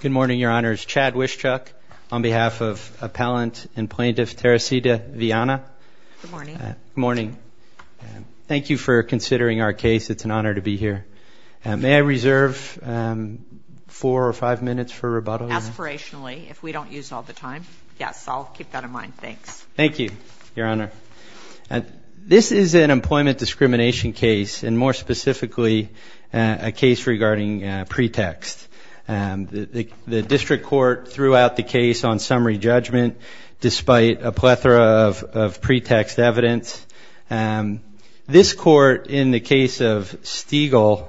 Good morning, Your Honors. Chad Wischuk on behalf of Appellant and Plaintiff Teresita Viana. Good morning. Good morning. Thank you for considering our case. It's an honor to be here. May I reserve four or five minutes for rebuttal? Aspirationally, if we don't use all the time. Yes, I'll keep that in mind. Thanks. Thank you, Your Honor. This is an employment discrimination case, and more specifically, a case regarding pretext. The district court threw out the case on summary judgment despite a plethora of pretext evidence. This court, in the case of Stiegel,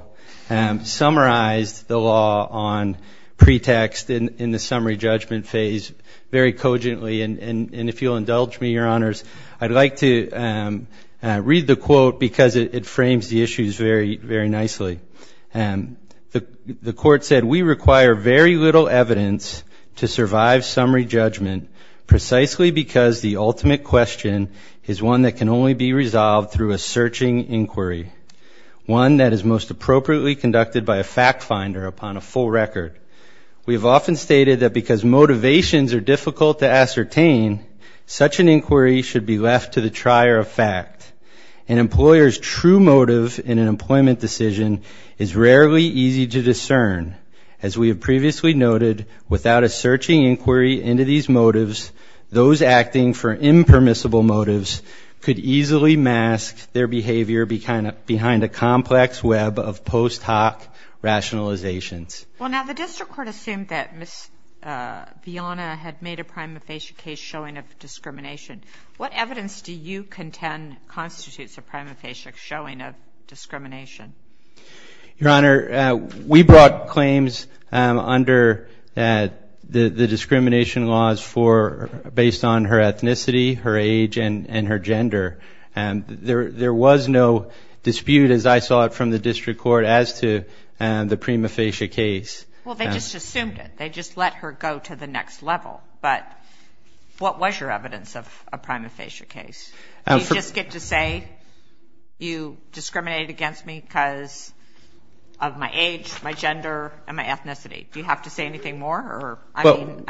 summarized the law on pretext in the summary judgment phase very cogently. And if you'll indulge me, Your Honors, I'd like to read the quote because it frames the issues very nicely. The court said, We require very little evidence to survive summary judgment, precisely because the ultimate question is one that can only be resolved through a searching inquiry, one that is most appropriately conducted by a fact finder upon a full record. We have often stated that because motivations are difficult to ascertain, such an inquiry should be left to the trier of fact. An employer's true motive in an employment decision is rarely easy to discern. As we have previously noted, without a searching inquiry into these motives, those acting for impermissible motives could easily mask their behavior behind a complex web of post hoc rationalizations. Well, now the district court assumed that Miss Vianna had made a prima facie case showing of discrimination. What evidence do you contend constitutes a prima facie showing of discrimination? Your Honor, we brought claims under the discrimination laws based on her ethnicity, her age, and her gender. There was no dispute, as I saw it from the district court, as to the prima facie case. Well, they just assumed it. They just let her go to the next level. But what was your evidence of a prima facie case? Do you just get to say you discriminated against me because of my age, my gender, and my ethnicity? Do you have to say anything more? I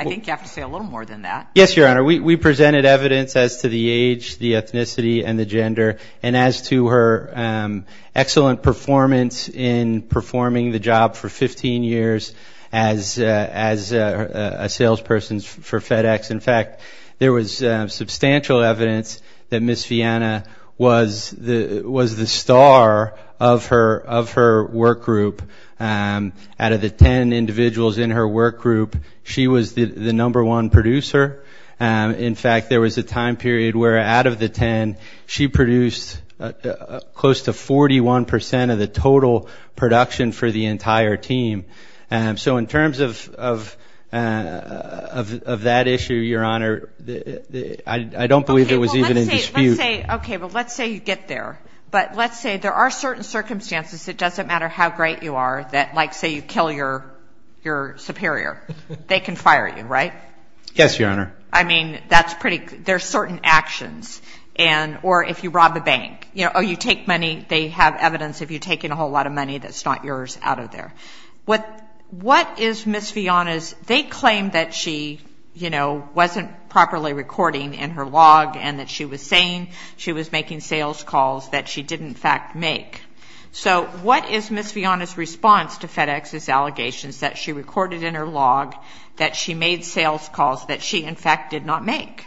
think you have to say a little more than that. Yes, Your Honor. We presented evidence as to the age, the ethnicity, and the gender, and as to her excellent performance in performing the job for 15 years as a salesperson for FedEx. In fact, there was substantial evidence that Miss Vianna was the star of her work group. Out of the ten individuals in her work group, she was the number one producer. In fact, there was a time period where, out of the ten, she produced close to 41 percent of the total production for the entire team. So in terms of that issue, Your Honor, I don't believe it was even in dispute. Okay, well, let's say you get there. But let's say there are certain circumstances, it doesn't matter how great you are, that, like, say you kill your superior. They can fire you, right? Yes, Your Honor. I mean, that's pretty good. There are certain actions, or if you rob a bank, or you take money, they have evidence of you taking a whole lot of money that's not yours out of there. What is Miss Vianna's—they claim that she wasn't properly recording in her log and that she was saying she was making sales calls that she didn't, in fact, make. So what is Miss Vianna's response to FedEx's allegations that she recorded in her log, that she made sales calls that she, in fact, did not make?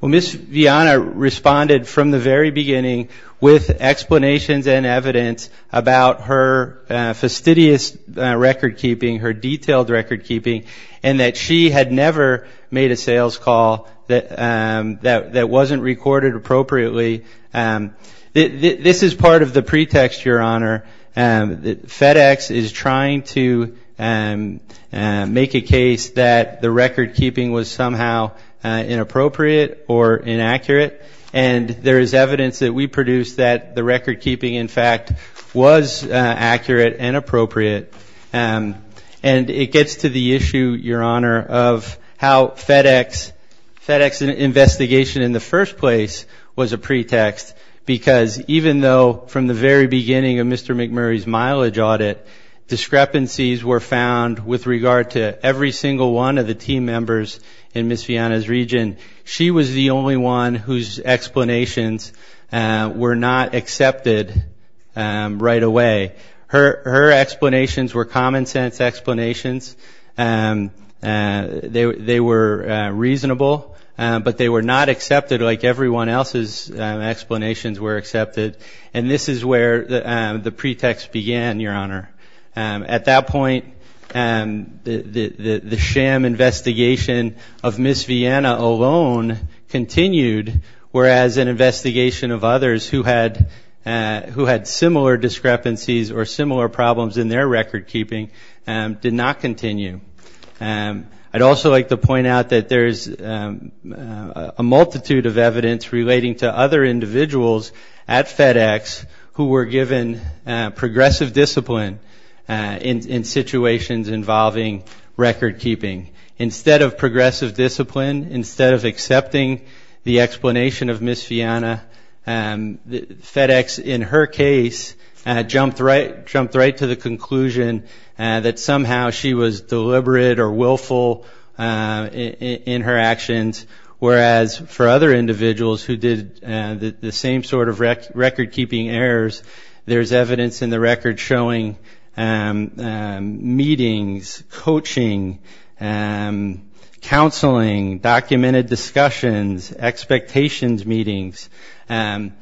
Well, Miss Vianna responded from the very beginning with explanations and evidence about her fastidious recordkeeping, her detailed recordkeeping, and that she had never made a sales call that wasn't recorded appropriately. This is part of the pretext, Your Honor, that FedEx is trying to make a case that the recordkeeping was somehow inappropriate or inaccurate, and there is evidence that we produced that the recordkeeping, in fact, was accurate and appropriate. And it gets to the issue, Your Honor, of how FedEx's investigation in the first place was a pretext, because even though from the very beginning of Mr. McMurray's mileage audit, discrepancies were found with regard to every single one of the team members in Miss Vianna's region, she was the only one whose explanations were not accepted right away. Her explanations were common-sense explanations. They were reasonable, but they were not accepted like everyone else's explanations were accepted. And this is where the pretext began, Your Honor. At that point, the sham investigation of Miss Vianna alone continued, whereas an investigation of others who had similar discrepancies or similar problems in their recordkeeping did not continue. I'd also like to point out that there's a multitude of evidence relating to other individuals at FedEx who were given progressive discipline in situations involving recordkeeping. Instead of progressive discipline, instead of accepting the explanation of Miss Vianna, FedEx, in her case, jumped right to the conclusion that somehow she was deliberate or willful in her actions, whereas for other individuals who did the same sort of recordkeeping errors, there's evidence in the record showing meetings, coaching, counseling, documented discussions, expectations meetings. And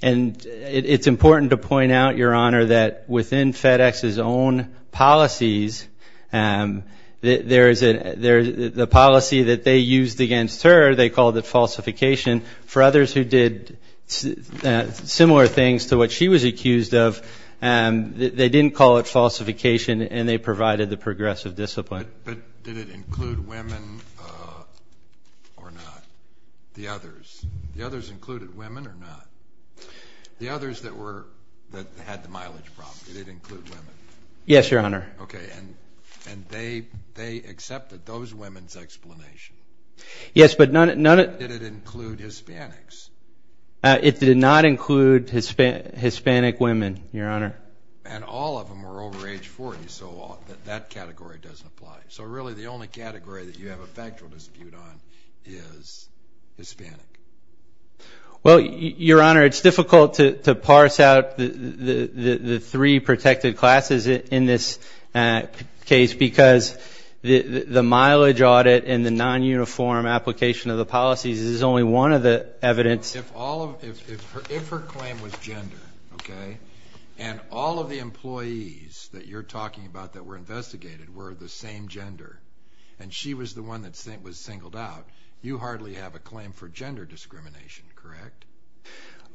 it's important to point out, Your Honor, that within FedEx's own policies, the policy that they used against her, they called it falsification. For others who did similar things to what she was accused of, they didn't call it falsification, and they provided the progressive discipline. But did it include women or not? The others. The others included women or not? The others that had the mileage problem, did it include women? Yes, Your Honor. Okay. And they accepted those women's explanations? Yes, but none of them. But did it include Hispanics? It did not include Hispanic women, Your Honor. And all of them were over age 40, so that category doesn't apply. So really the only category that you have a factual dispute on is Hispanic. Well, Your Honor, it's difficult to parse out the three protected classes in this case because the mileage audit and the non-uniform application of the policies is only one of the evidence. If her claim was gender, okay, and all of the employees that you're talking about that were investigated were the same gender, and she was the one that was singled out, you hardly have a claim for gender discrimination, correct?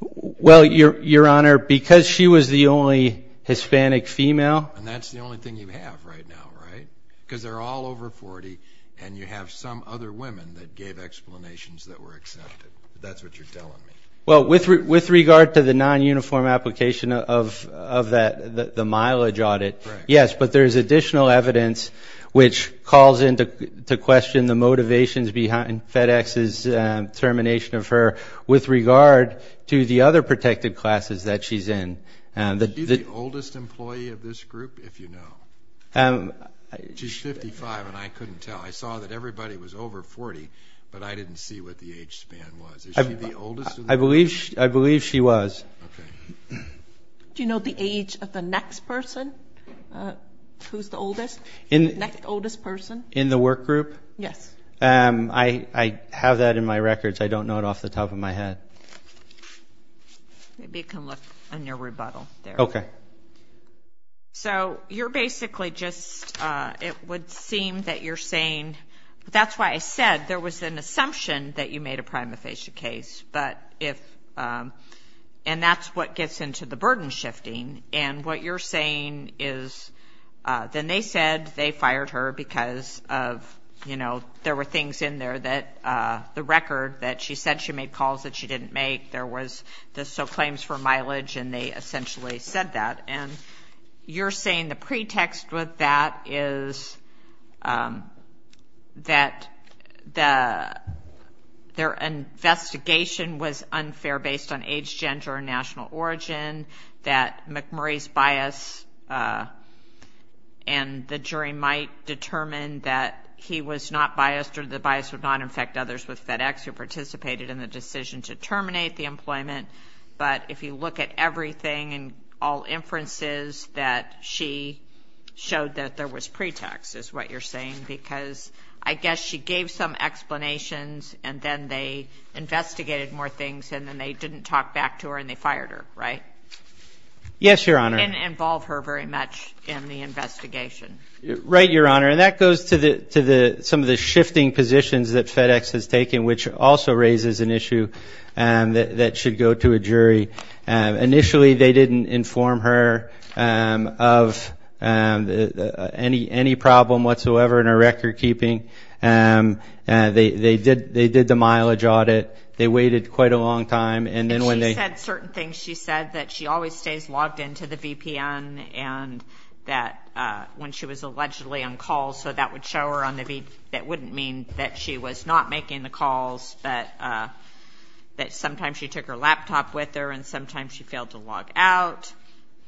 Well, Your Honor, because she was the only Hispanic female. And that's the only thing you have right now, right? Because they're all over 40, and you have some other women that gave explanations that were accepted. That's what you're telling me. Well, with regard to the non-uniform application of the mileage audit, yes, but there is additional evidence which calls into question the motivations behind FedEx's termination of her with regard to the other protected classes that she's in. Is she the oldest employee of this group, if you know? She's 55, and I couldn't tell. I saw that everybody was over 40, but I didn't see what the age span was. Is she the oldest of the group? I believe she was. Okay. Do you know the age of the next person who's the oldest, next oldest person? In the work group? Yes. I have that in my records. I don't know it off the top of my head. Maybe you can look in your rebuttal there. Okay. So you're basically just, it would seem that you're saying, that's why I said there was an assumption that you made a prima facie case, and that's what gets into the burden shifting, and what you're saying is then they said they fired her because of, you know, there were things in there that the record that she said she made calls that she didn't make, there was the claims for mileage, and they essentially said that. And you're saying the pretext with that is that their investigation was unfair based on age, gender, and national origin, that McMurray's bias and the jury might determine that he was not biased or the bias would not affect others with FedEx who participated in the decision to terminate the employment, but if you look at everything and all inferences that she showed that there was pretext, is what you're saying, because I guess she gave some explanations and then they investigated more things and then they didn't talk back to her and they fired her, right? Yes, Your Honor. And didn't involve her very much in the investigation. Right, Your Honor. And that goes to some of the shifting positions that FedEx has taken, which also raises an issue that should go to a jury. Initially they didn't inform her of any problem whatsoever in her record keeping. They did the mileage audit. They waited quite a long time, and then when they- She said certain things. She said that she always stays logged into the VPN and that when she was allegedly on call, so that would show her on the VPN. That wouldn't mean that she was not making the calls, that sometimes she took her laptop with her and sometimes she failed to log out,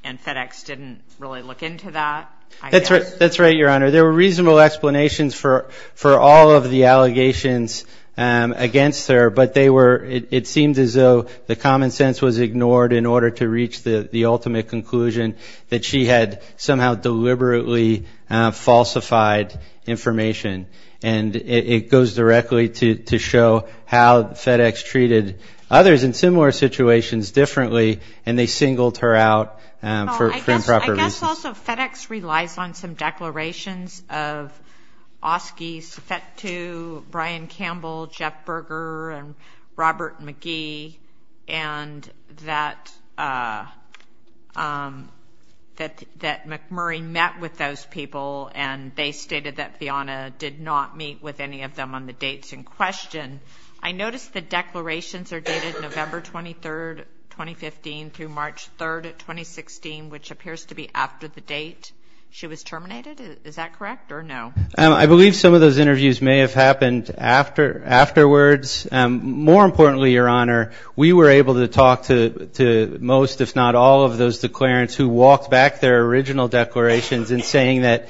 and FedEx didn't really look into that. That's right, Your Honor. There were reasonable explanations for all of the allegations against her, but it seemed as though the common sense was ignored in order to reach the ultimate conclusion that she had somehow deliberately falsified information. And it goes directly to show how FedEx treated others in similar situations differently and they singled her out for improper reasons. I noticed also FedEx relies on some declarations of Oski, Sofetu, Brian Campbell, Jeff Berger, and Robert McGee, and that McMurray met with those people and they stated that Vianna did not meet with any of them on the dates in question. I noticed the declarations are dated November 23rd, 2015, through March 3rd, 2016, which appears to be after the date she was terminated. Is that correct or no? I believe some of those interviews may have happened afterwards. More importantly, Your Honor, we were able to talk to most, if not all of those declarants who walked back their original declarations in saying that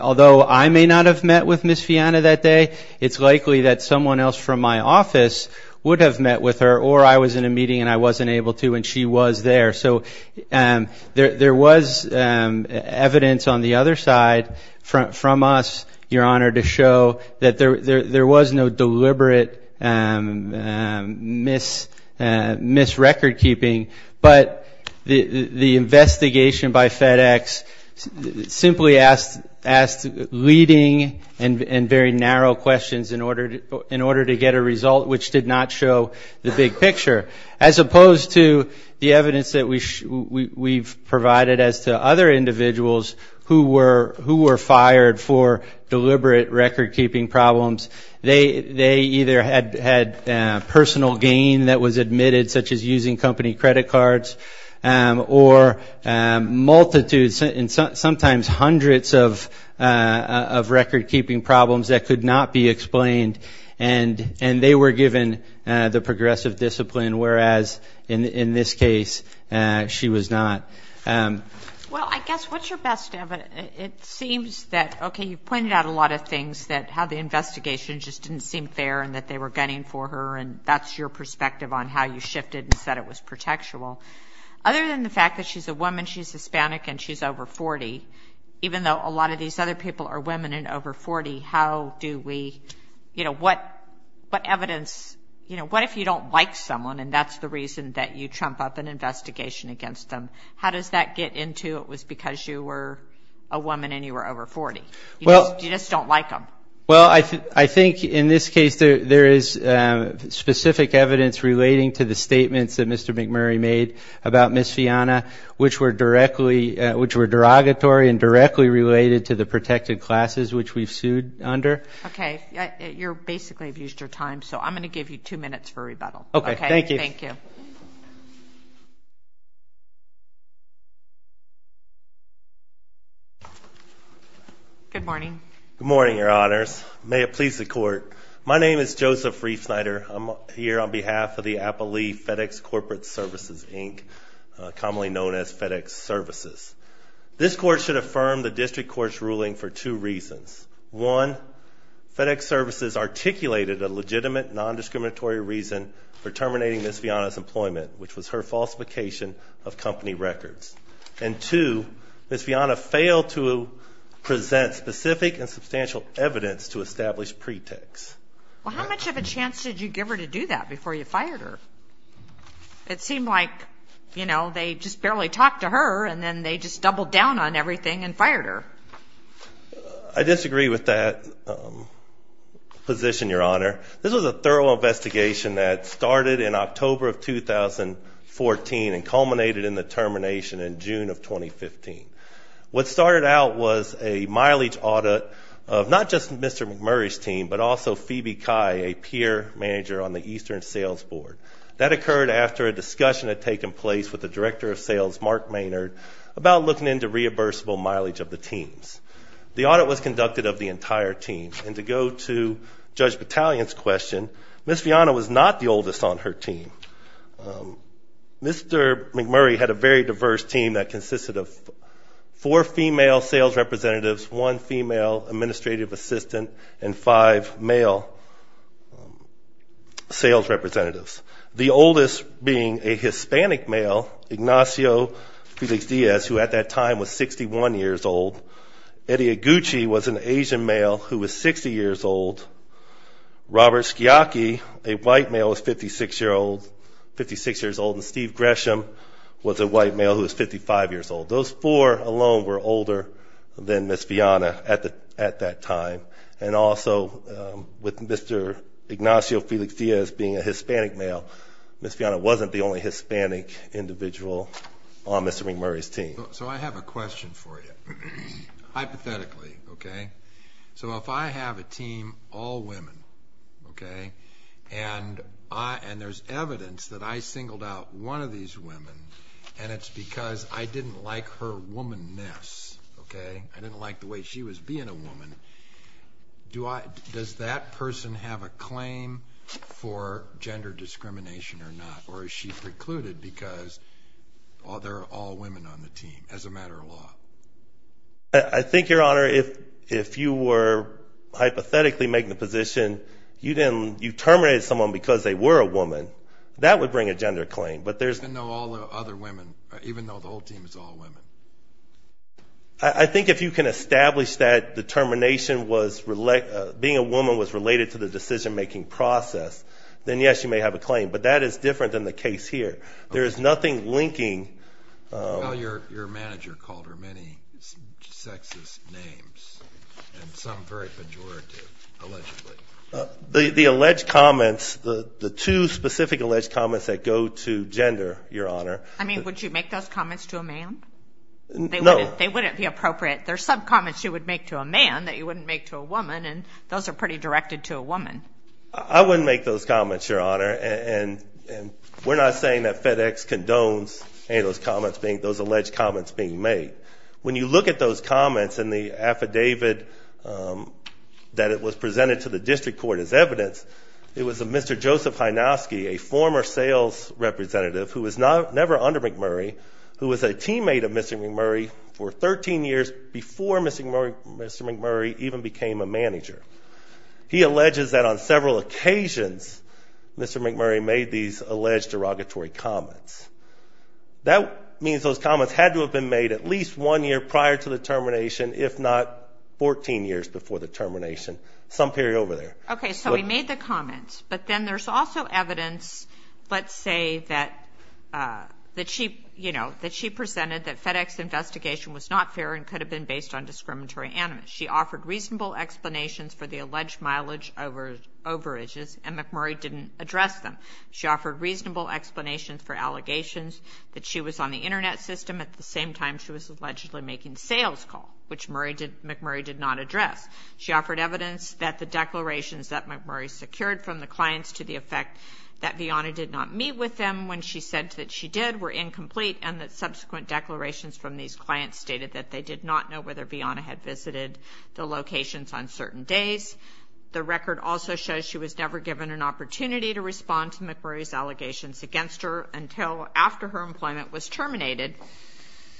although I may not have met with Ms. Vianna that day, it's likely that someone else from my office would have met with her or I was in a meeting and I wasn't able to and she was there. So there was evidence on the other side from us, Your Honor, to show that there was no deliberate misrecord keeping, but the investigation by FedEx simply asked leading and very narrow questions in order to get a result which did not show the big picture, as opposed to the evidence that we've provided as to other individuals who were fired for deliberate record keeping problems. They either had personal gain that was admitted, such as using company credit cards, or multitudes and sometimes hundreds of record keeping problems that could not be explained and they were given the progressive discipline, whereas in this case she was not. Well, I guess what's your best evidence? It seems that, okay, you've pointed out a lot of things, that how the investigation just didn't seem fair and that they were gunning for her and that's your perspective on how you shifted and said it was protectual. Other than the fact that she's a woman, she's Hispanic, and she's over 40, even though a lot of these other people are women and over 40, how do we, you know, what evidence, you know, what if you don't like someone and that's the reason that you trump up an investigation against them? How does that get into it was because you were a woman and you were over 40? You just don't like them. Well, I think in this case there is specific evidence relating to the statements that Mr. McMurray made about Ms. Fianna, which were directly, which were derogatory and directly related to the protected classes which we've sued under. Okay. You're basically abused your time, so I'm going to give you two minutes for rebuttal. Okay. Thank you. Thank you. Good morning. Good morning, Your Honors. May it please the Court. My name is Joseph Riefsnyder. I'm here on behalf of the Appellee FedEx Corporate Services, Inc., commonly known as FedEx Services. This Court should affirm the District Court's ruling for two reasons. One, FedEx Services articulated a legitimate, nondiscriminatory reason for terminating Ms. Fianna's employment, which was her falsification of company records. And two, Ms. Fianna failed to present specific and substantial evidence to establish pretext. Well, how much of a chance did you give her to do that before you fired her? It seemed like, you know, they just barely talked to her, and then they just doubled down on everything and fired her. I disagree with that position, Your Honor. This was a thorough investigation that started in October of 2014 and culminated in the termination in June of 2015. What started out was a mileage audit of not just Mr. McMurray's team, but also Phoebe Kai, a peer manager on the Eastern Sales Board. That occurred after a discussion had taken place with the Director of Sales, Mark Maynard, about looking into reimbursable mileage of the teams. The audit was conducted of the entire team. And to go to Judge Battalion's question, Ms. Fianna was not the oldest on her team. Mr. McMurray had a very diverse team that consisted of four female sales representatives, one female administrative assistant, and five male sales representatives. The oldest being a Hispanic male, Ignacio Felix Diaz, who at that time was 61 years old. Eddie Iguchi was an Asian male who was 60 years old. Robert Sciacchi, a white male who was 56 years old. And Steve Gresham was a white male who was 55 years old. Those four alone were older than Ms. Fianna at that time. And also with Mr. Ignacio Felix Diaz being a Hispanic male, Ms. Fianna wasn't the only Hispanic individual on Mr. McMurray's team. So I have a question for you, hypothetically, okay? So if I have a team, all women, okay? And there's evidence that I singled out one of these women, and it's because I didn't like her woman-ness, okay? I didn't like the way she was being a woman. Does that person have a claim for gender discrimination or not? Or is she precluded because they're all women on the team as a matter of law? I think, Your Honor, if you were hypothetically making the position you terminated someone because they were a woman, that would bring a gender claim. Even though all the other women, even though the whole team is all women? I think if you can establish that the termination was related, being a woman was related to the decision-making process, then yes, you may have a claim. But that is different than the case here. There is nothing linking. Well, your manager called her many sexist names, and some very pejorative, allegedly. The alleged comments, the two specific alleged comments that go to gender, Your Honor. I mean, would you make those comments to a man? No. They wouldn't be appropriate. There are some comments you would make to a man that you wouldn't make to a woman, and those are pretty directed to a woman. I wouldn't make those comments, Your Honor. We're not saying that FedEx condones any of those alleged comments being made. When you look at those comments in the affidavit that was presented to the district court as evidence, it was a Mr. Joseph Hynoski, a former sales representative who was never under McMurray, who was a teammate of Mr. McMurray for 13 years before Mr. McMurray even became a manager. He alleges that on several occasions Mr. McMurray made these alleged derogatory comments. That means those comments had to have been made at least one year prior to the termination, if not 14 years before the termination, some period over there. Okay, so he made the comments, but then there's also evidence, let's say, that she presented that FedEx's investigation was not fair and could have been based on discriminatory animus. She offered reasonable explanations for the alleged mileage overages and McMurray didn't address them. She offered reasonable explanations for allegations that she was on the Internet system at the same time she was allegedly making the sales call, which McMurray did not address. She offered evidence that the declarations that McMurray secured from the clients to the effect that Vianna did not meet with them when she said that she did were incomplete and that subsequent declarations from these clients stated that they did not know whether Vianna had visited the locations on certain days. The record also shows she was never given an opportunity to respond to McMurray's allegations against her until after her employment was terminated.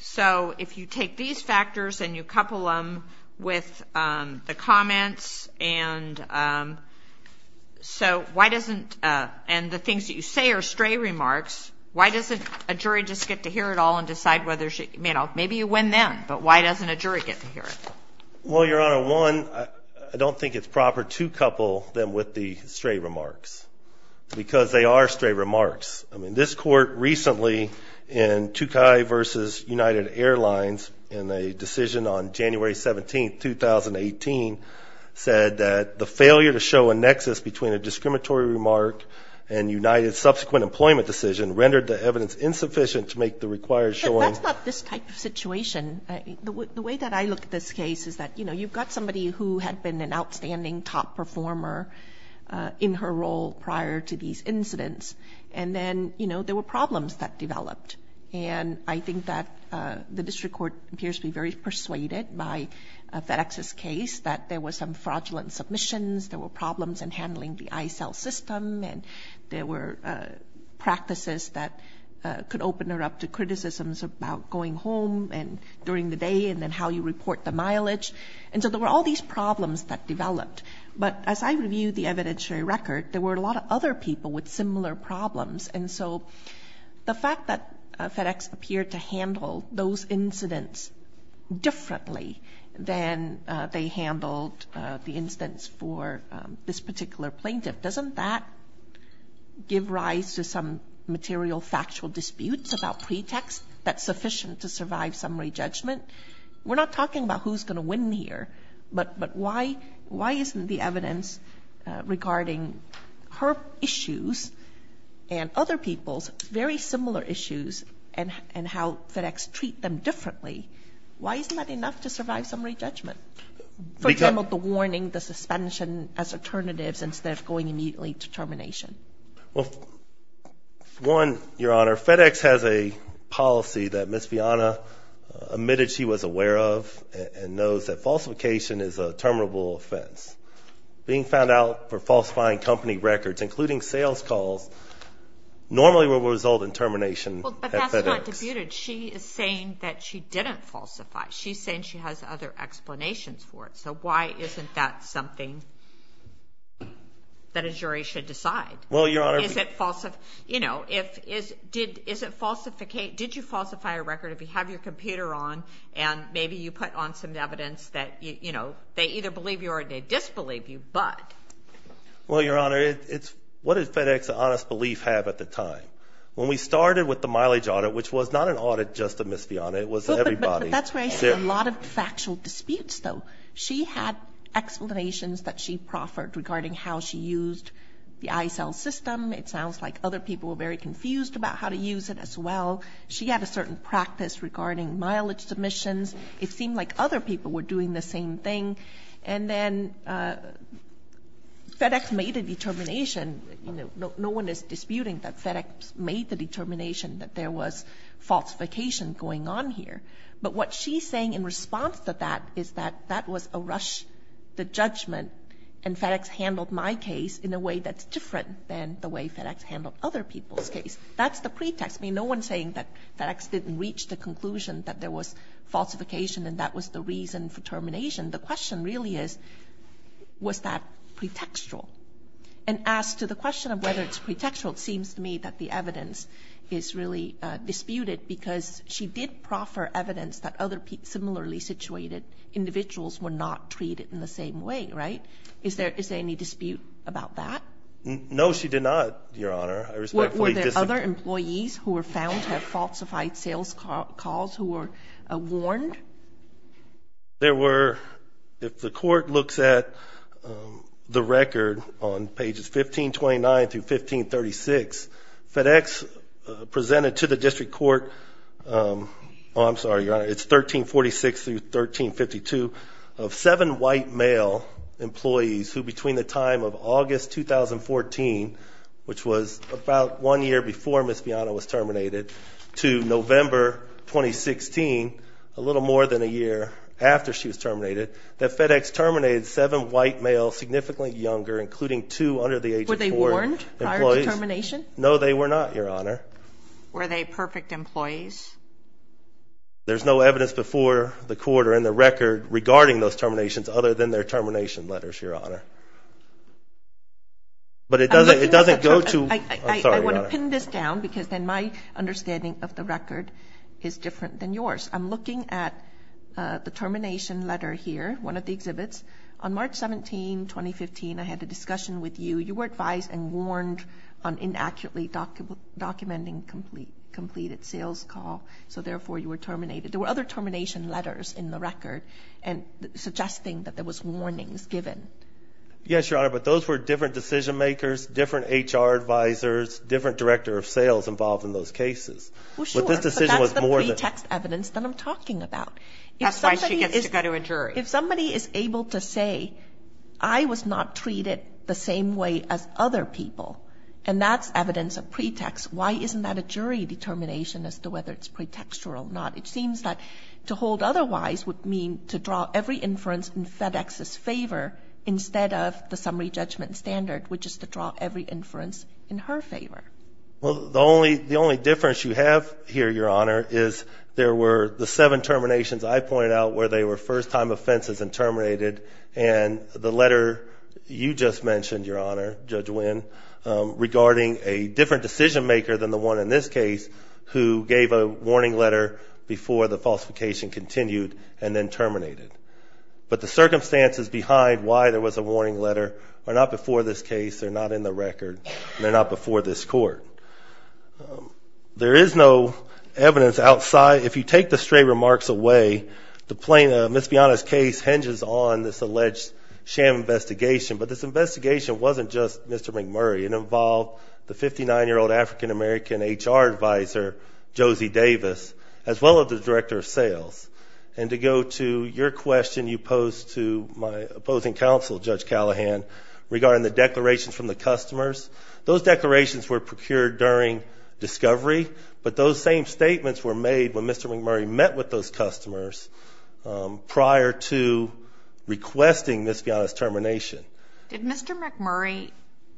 So if you take these factors and you couple them with the comments and the things that you say are stray remarks, why doesn't a jury just get to hear it all and decide whether she, you know, maybe you win then, but why doesn't a jury get to hear it? Well, Your Honor, one, I don't think it's proper to couple them with the stray remarks because they are stray remarks. I mean, this court recently in Tucay v. United Airlines in a decision on January 17, 2018, said that the failure to show a nexus between a discriminatory remark and United's subsequent employment decision rendered the evidence insufficient to make the required showing. That's not this type of situation. The way that I look at this case is that, you know, you've got somebody who had been an outstanding top performer in her role prior to these incidents, and then, you know, there were problems that developed. And I think that the district court appears to be very persuaded by FedEx's case that there were some fraudulent submissions, there were problems in handling the iCell system, and there were practices that could open her up to criticisms about going home during the day and then how you report the mileage. And so there were all these problems that developed. But as I reviewed the evidentiary record, there were a lot of other people with similar problems. And so the fact that FedEx appeared to handle those incidents differently than they handled the instance for this particular plaintiff, doesn't that give rise to some material factual disputes about pretext that's sufficient to survive summary judgment? We're not talking about who's going to win here, but why isn't the evidence regarding her issues and other people's very similar issues and how FedEx treat them differently, why isn't that enough to survive summary judgment? For example, the warning, the suspension as alternatives instead of going immediately to termination. Well, one, Your Honor, FedEx has a policy that Ms. Vianna admitted she was aware of and knows that falsification is a terminable offense. Being found out for falsifying company records, including sales calls, normally will result in termination at FedEx. She's not disputed. She is saying that she didn't falsify. She's saying she has other explanations for it. So why isn't that something that a jury should decide? Well, Your Honor. Did you falsify a record if you have your computer on and maybe you put on some evidence that they either believe you or they disbelieve you, but? Well, Your Honor, what did FedEx's honest belief have at the time? When we started with the mileage audit, which was not an audit just of Ms. Vianna. It was everybody. But that's where I see a lot of factual disputes, though. She had explanations that she proffered regarding how she used the iSell system. It sounds like other people were very confused about how to use it as well. She had a certain practice regarding mileage submissions. It seemed like other people were doing the same thing. And then FedEx made a determination. No one is disputing that FedEx made the determination that there was falsification going on here. But what she's saying in response to that is that that was a rush to judgment and FedEx handled my case in a way that's different than the way FedEx handled other people's case. That's the pretext. No one's saying that FedEx didn't reach the conclusion that there was falsification and that was the reason for termination. The question really is, was that pretextual? And as to the question of whether it's pretextual, it seems to me that the evidence is really disputed because she did proffer evidence that other similarly situated individuals were not treated in the same way, right? Is there any dispute about that? No, she did not, Your Honor. Were there other employees who were found to have falsified sales calls who were warned? There were, if the court looks at the record on pages 1529 through 1536, FedEx presented to the district court, oh, I'm sorry, Your Honor, it's 1346 through 1352, of seven white male employees who between the time of August 2014, which was about one year before Ms. Fianna was terminated, to November 2016, a little more than a year after she was terminated, that FedEx terminated seven white males significantly younger, including two under the age of four employees. Were they warned prior to termination? No, they were not, Your Honor. Were they perfect employees? There's no evidence before the court or in the record regarding those terminations other than their termination letters, Your Honor. But it doesn't go to, I'm sorry, Your Honor. I want to pin this down because then my understanding of the record is different than yours. I'm looking at the termination letter here, one of the exhibits. On March 17, 2015, I had a discussion with you. You were advised and warned on inaccurately documenting completed sales call, so therefore you were terminated. There were other termination letters in the record suggesting that there was warnings given. Yes, Your Honor, but those were different decision makers, different HR advisors, different director of sales involved in those cases. Well, sure. But this decision was more than— But that's the pretext evidence that I'm talking about. That's why she gets to go to a jury. If somebody is able to say, I was not treated the same way as other people, and that's evidence of pretext, why isn't that a jury determination as to whether it's pretextual or not? It seems that to hold otherwise would mean to draw every inference in FedEx's favor instead of the summary judgment standard, which is to draw every inference in her favor. Well, the only difference you have here, Your Honor, is there were the seven terminations I pointed out where they were first-time offenses and terminated, and the letter you just mentioned, Your Honor, Judge Winn, regarding a different decision maker than the one in this case who gave a warning letter before the falsification continued and then terminated. But the circumstances behind why there was a warning letter are not before this case. They're not in the record. They're not before this court. There is no evidence outside. If you take the stray remarks away, Ms. Bianna's case hinges on this alleged sham investigation, but this investigation wasn't just Mr. McMurray. It involved the 59-year-old African-American HR advisor, Josie Davis, as well as the director of sales. And to go to your question you posed to my opposing counsel, Judge Callahan, regarding the declarations from the customers, those declarations were procured during discovery, but those same statements were made when Mr. McMurray met with those customers prior to requesting Ms. Bianna's termination. Did Mr. McMurray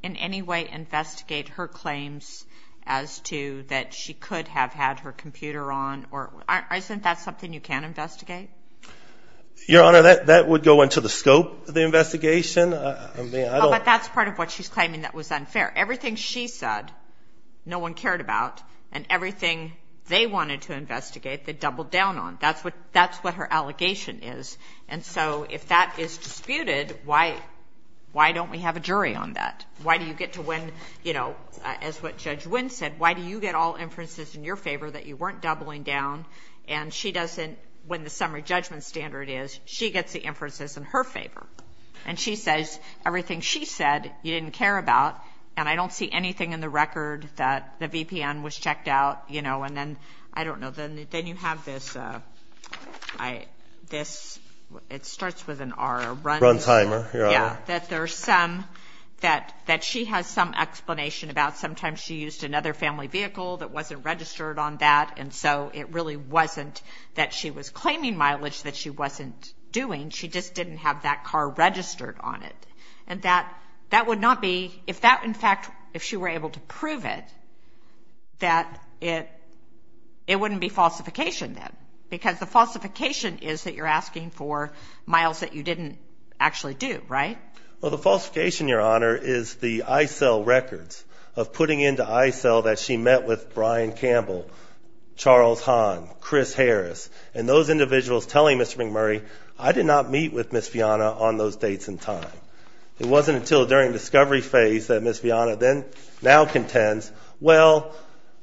in any way investigate her claims as to that she could have had her computer on, or isn't that something you can investigate? Your Honor, that would go into the scope of the investigation. But that's part of what she's claiming that was unfair. Everything she said no one cared about, and everything they wanted to investigate they doubled down on. That's what her allegation is. And so if that is disputed, why don't we have a jury on that? Why do you get to win, you know, as what Judge Wynn said, why do you get all inferences in your favor that you weren't doubling down, and she doesn't, when the summary judgment standard is, she gets the inferences in her favor, and she says everything she said you didn't care about, and I don't see anything in the record that the VPN was checked out, you know, and then, I don't know, then you have this, it starts with an R. Run timer, Your Honor. Yeah, that there's some, that she has some explanation about. Sometimes she used another family vehicle that wasn't registered on that, and so it really wasn't that she was claiming mileage that she wasn't doing. She just didn't have that car registered on it. And that that would not be, if that, in fact, if she were able to prove it, that it wouldn't be falsification then, because the falsification is that you're asking for miles that you didn't actually do, right? Well, the falsification, Your Honor, is the ICEL records of putting into ICEL that she met with Brian Campbell, Charles Hahn, Chris Harris, and those individuals telling Mr. McMurray, I did not meet with Ms. Vianna on those dates and time. It wasn't until during discovery phase that Ms. Vianna then, now contends, well,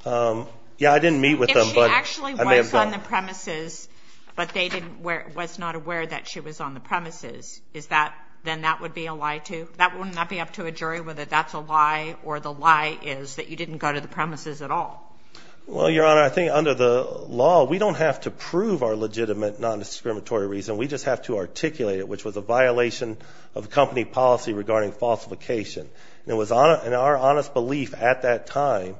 yeah, I didn't meet with them. If she actually was on the premises, but they didn't, was not aware that she was on the premises, is that, then that would be a lie too? That would not be up to a jury whether that's a lie or the lie is that you didn't go to the premises at all. Well, Your Honor, I think under the law, we don't have to prove our legitimate non-discriminatory reason. We just have to articulate it, which was a violation of company policy regarding falsification. And it was in our honest belief at that time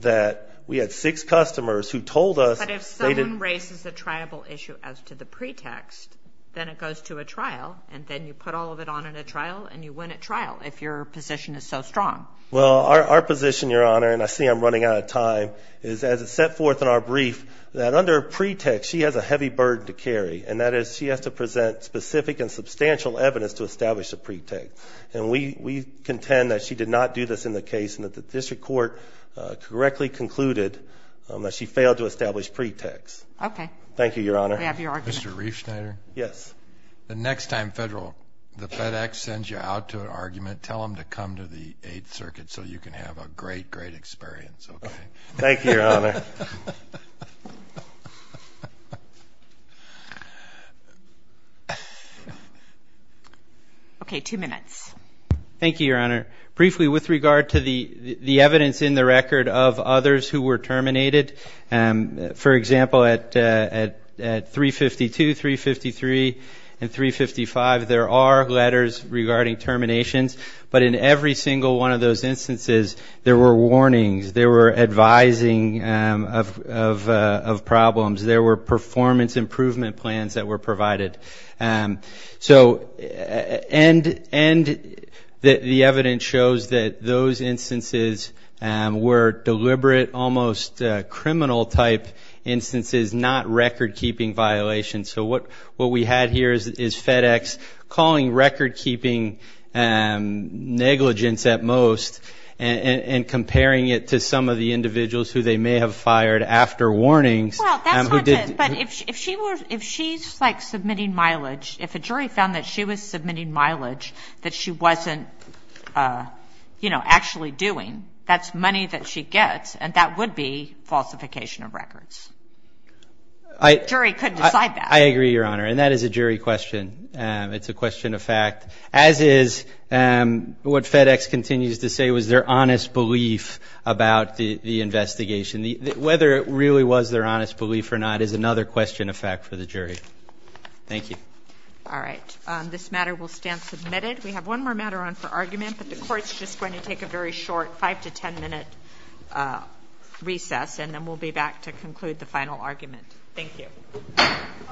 that we had six customers who told us they didn't. But if someone raises a triable issue as to the pretext, then it goes to a trial, and then you put all of it on in a trial, and you win at trial if your position is so strong. Well, our position, Your Honor, and I see I'm running out of time, is as it's set forth in our brief that under a pretext, she has a heavy burden to carry, and that is she has to present specific and substantial evidence to establish a pretext. And we contend that she did not do this in the case and that the district court correctly concluded that she failed to establish pretexts. Okay. Thank you, Your Honor. We have your argument. Mr. Riefschneider? Yes. The next time the FedEx sends you out to an argument, tell them to come to the Eighth Circuit so you can have a great, great experience, okay? Thank you, Your Honor. Okay, two minutes. Thank you, Your Honor. Briefly, with regard to the evidence in the record of others who were terminated, for example, at 352, 353, and 355, there are letters regarding terminations. But in every single one of those instances, there were warnings. There were advising of problems. There were performance improvement plans that were provided. And the evidence shows that those instances were deliberate, almost criminal-type instances, not record-keeping violations. So what we had here is FedEx calling record-keeping negligence at most and comparing it to some of the individuals who they may have fired after warnings. But if she's, like, submitting mileage, if a jury found that she was submitting mileage that she wasn't, you know, actually doing, that's money that she gets, and that would be falsification of records. A jury could decide that. I agree, Your Honor, and that is a jury question. It's a question of fact, as is what FedEx continues to say was their honest belief about the investigation. Whether it really was their honest belief or not is another question of fact for the jury. Thank you. All right. This matter will stand submitted. We have one more matter on for argument, but the Court's just going to take a very short 5 to 10-minute recess, and then we'll be back to conclude the final argument. Thank you. All rise.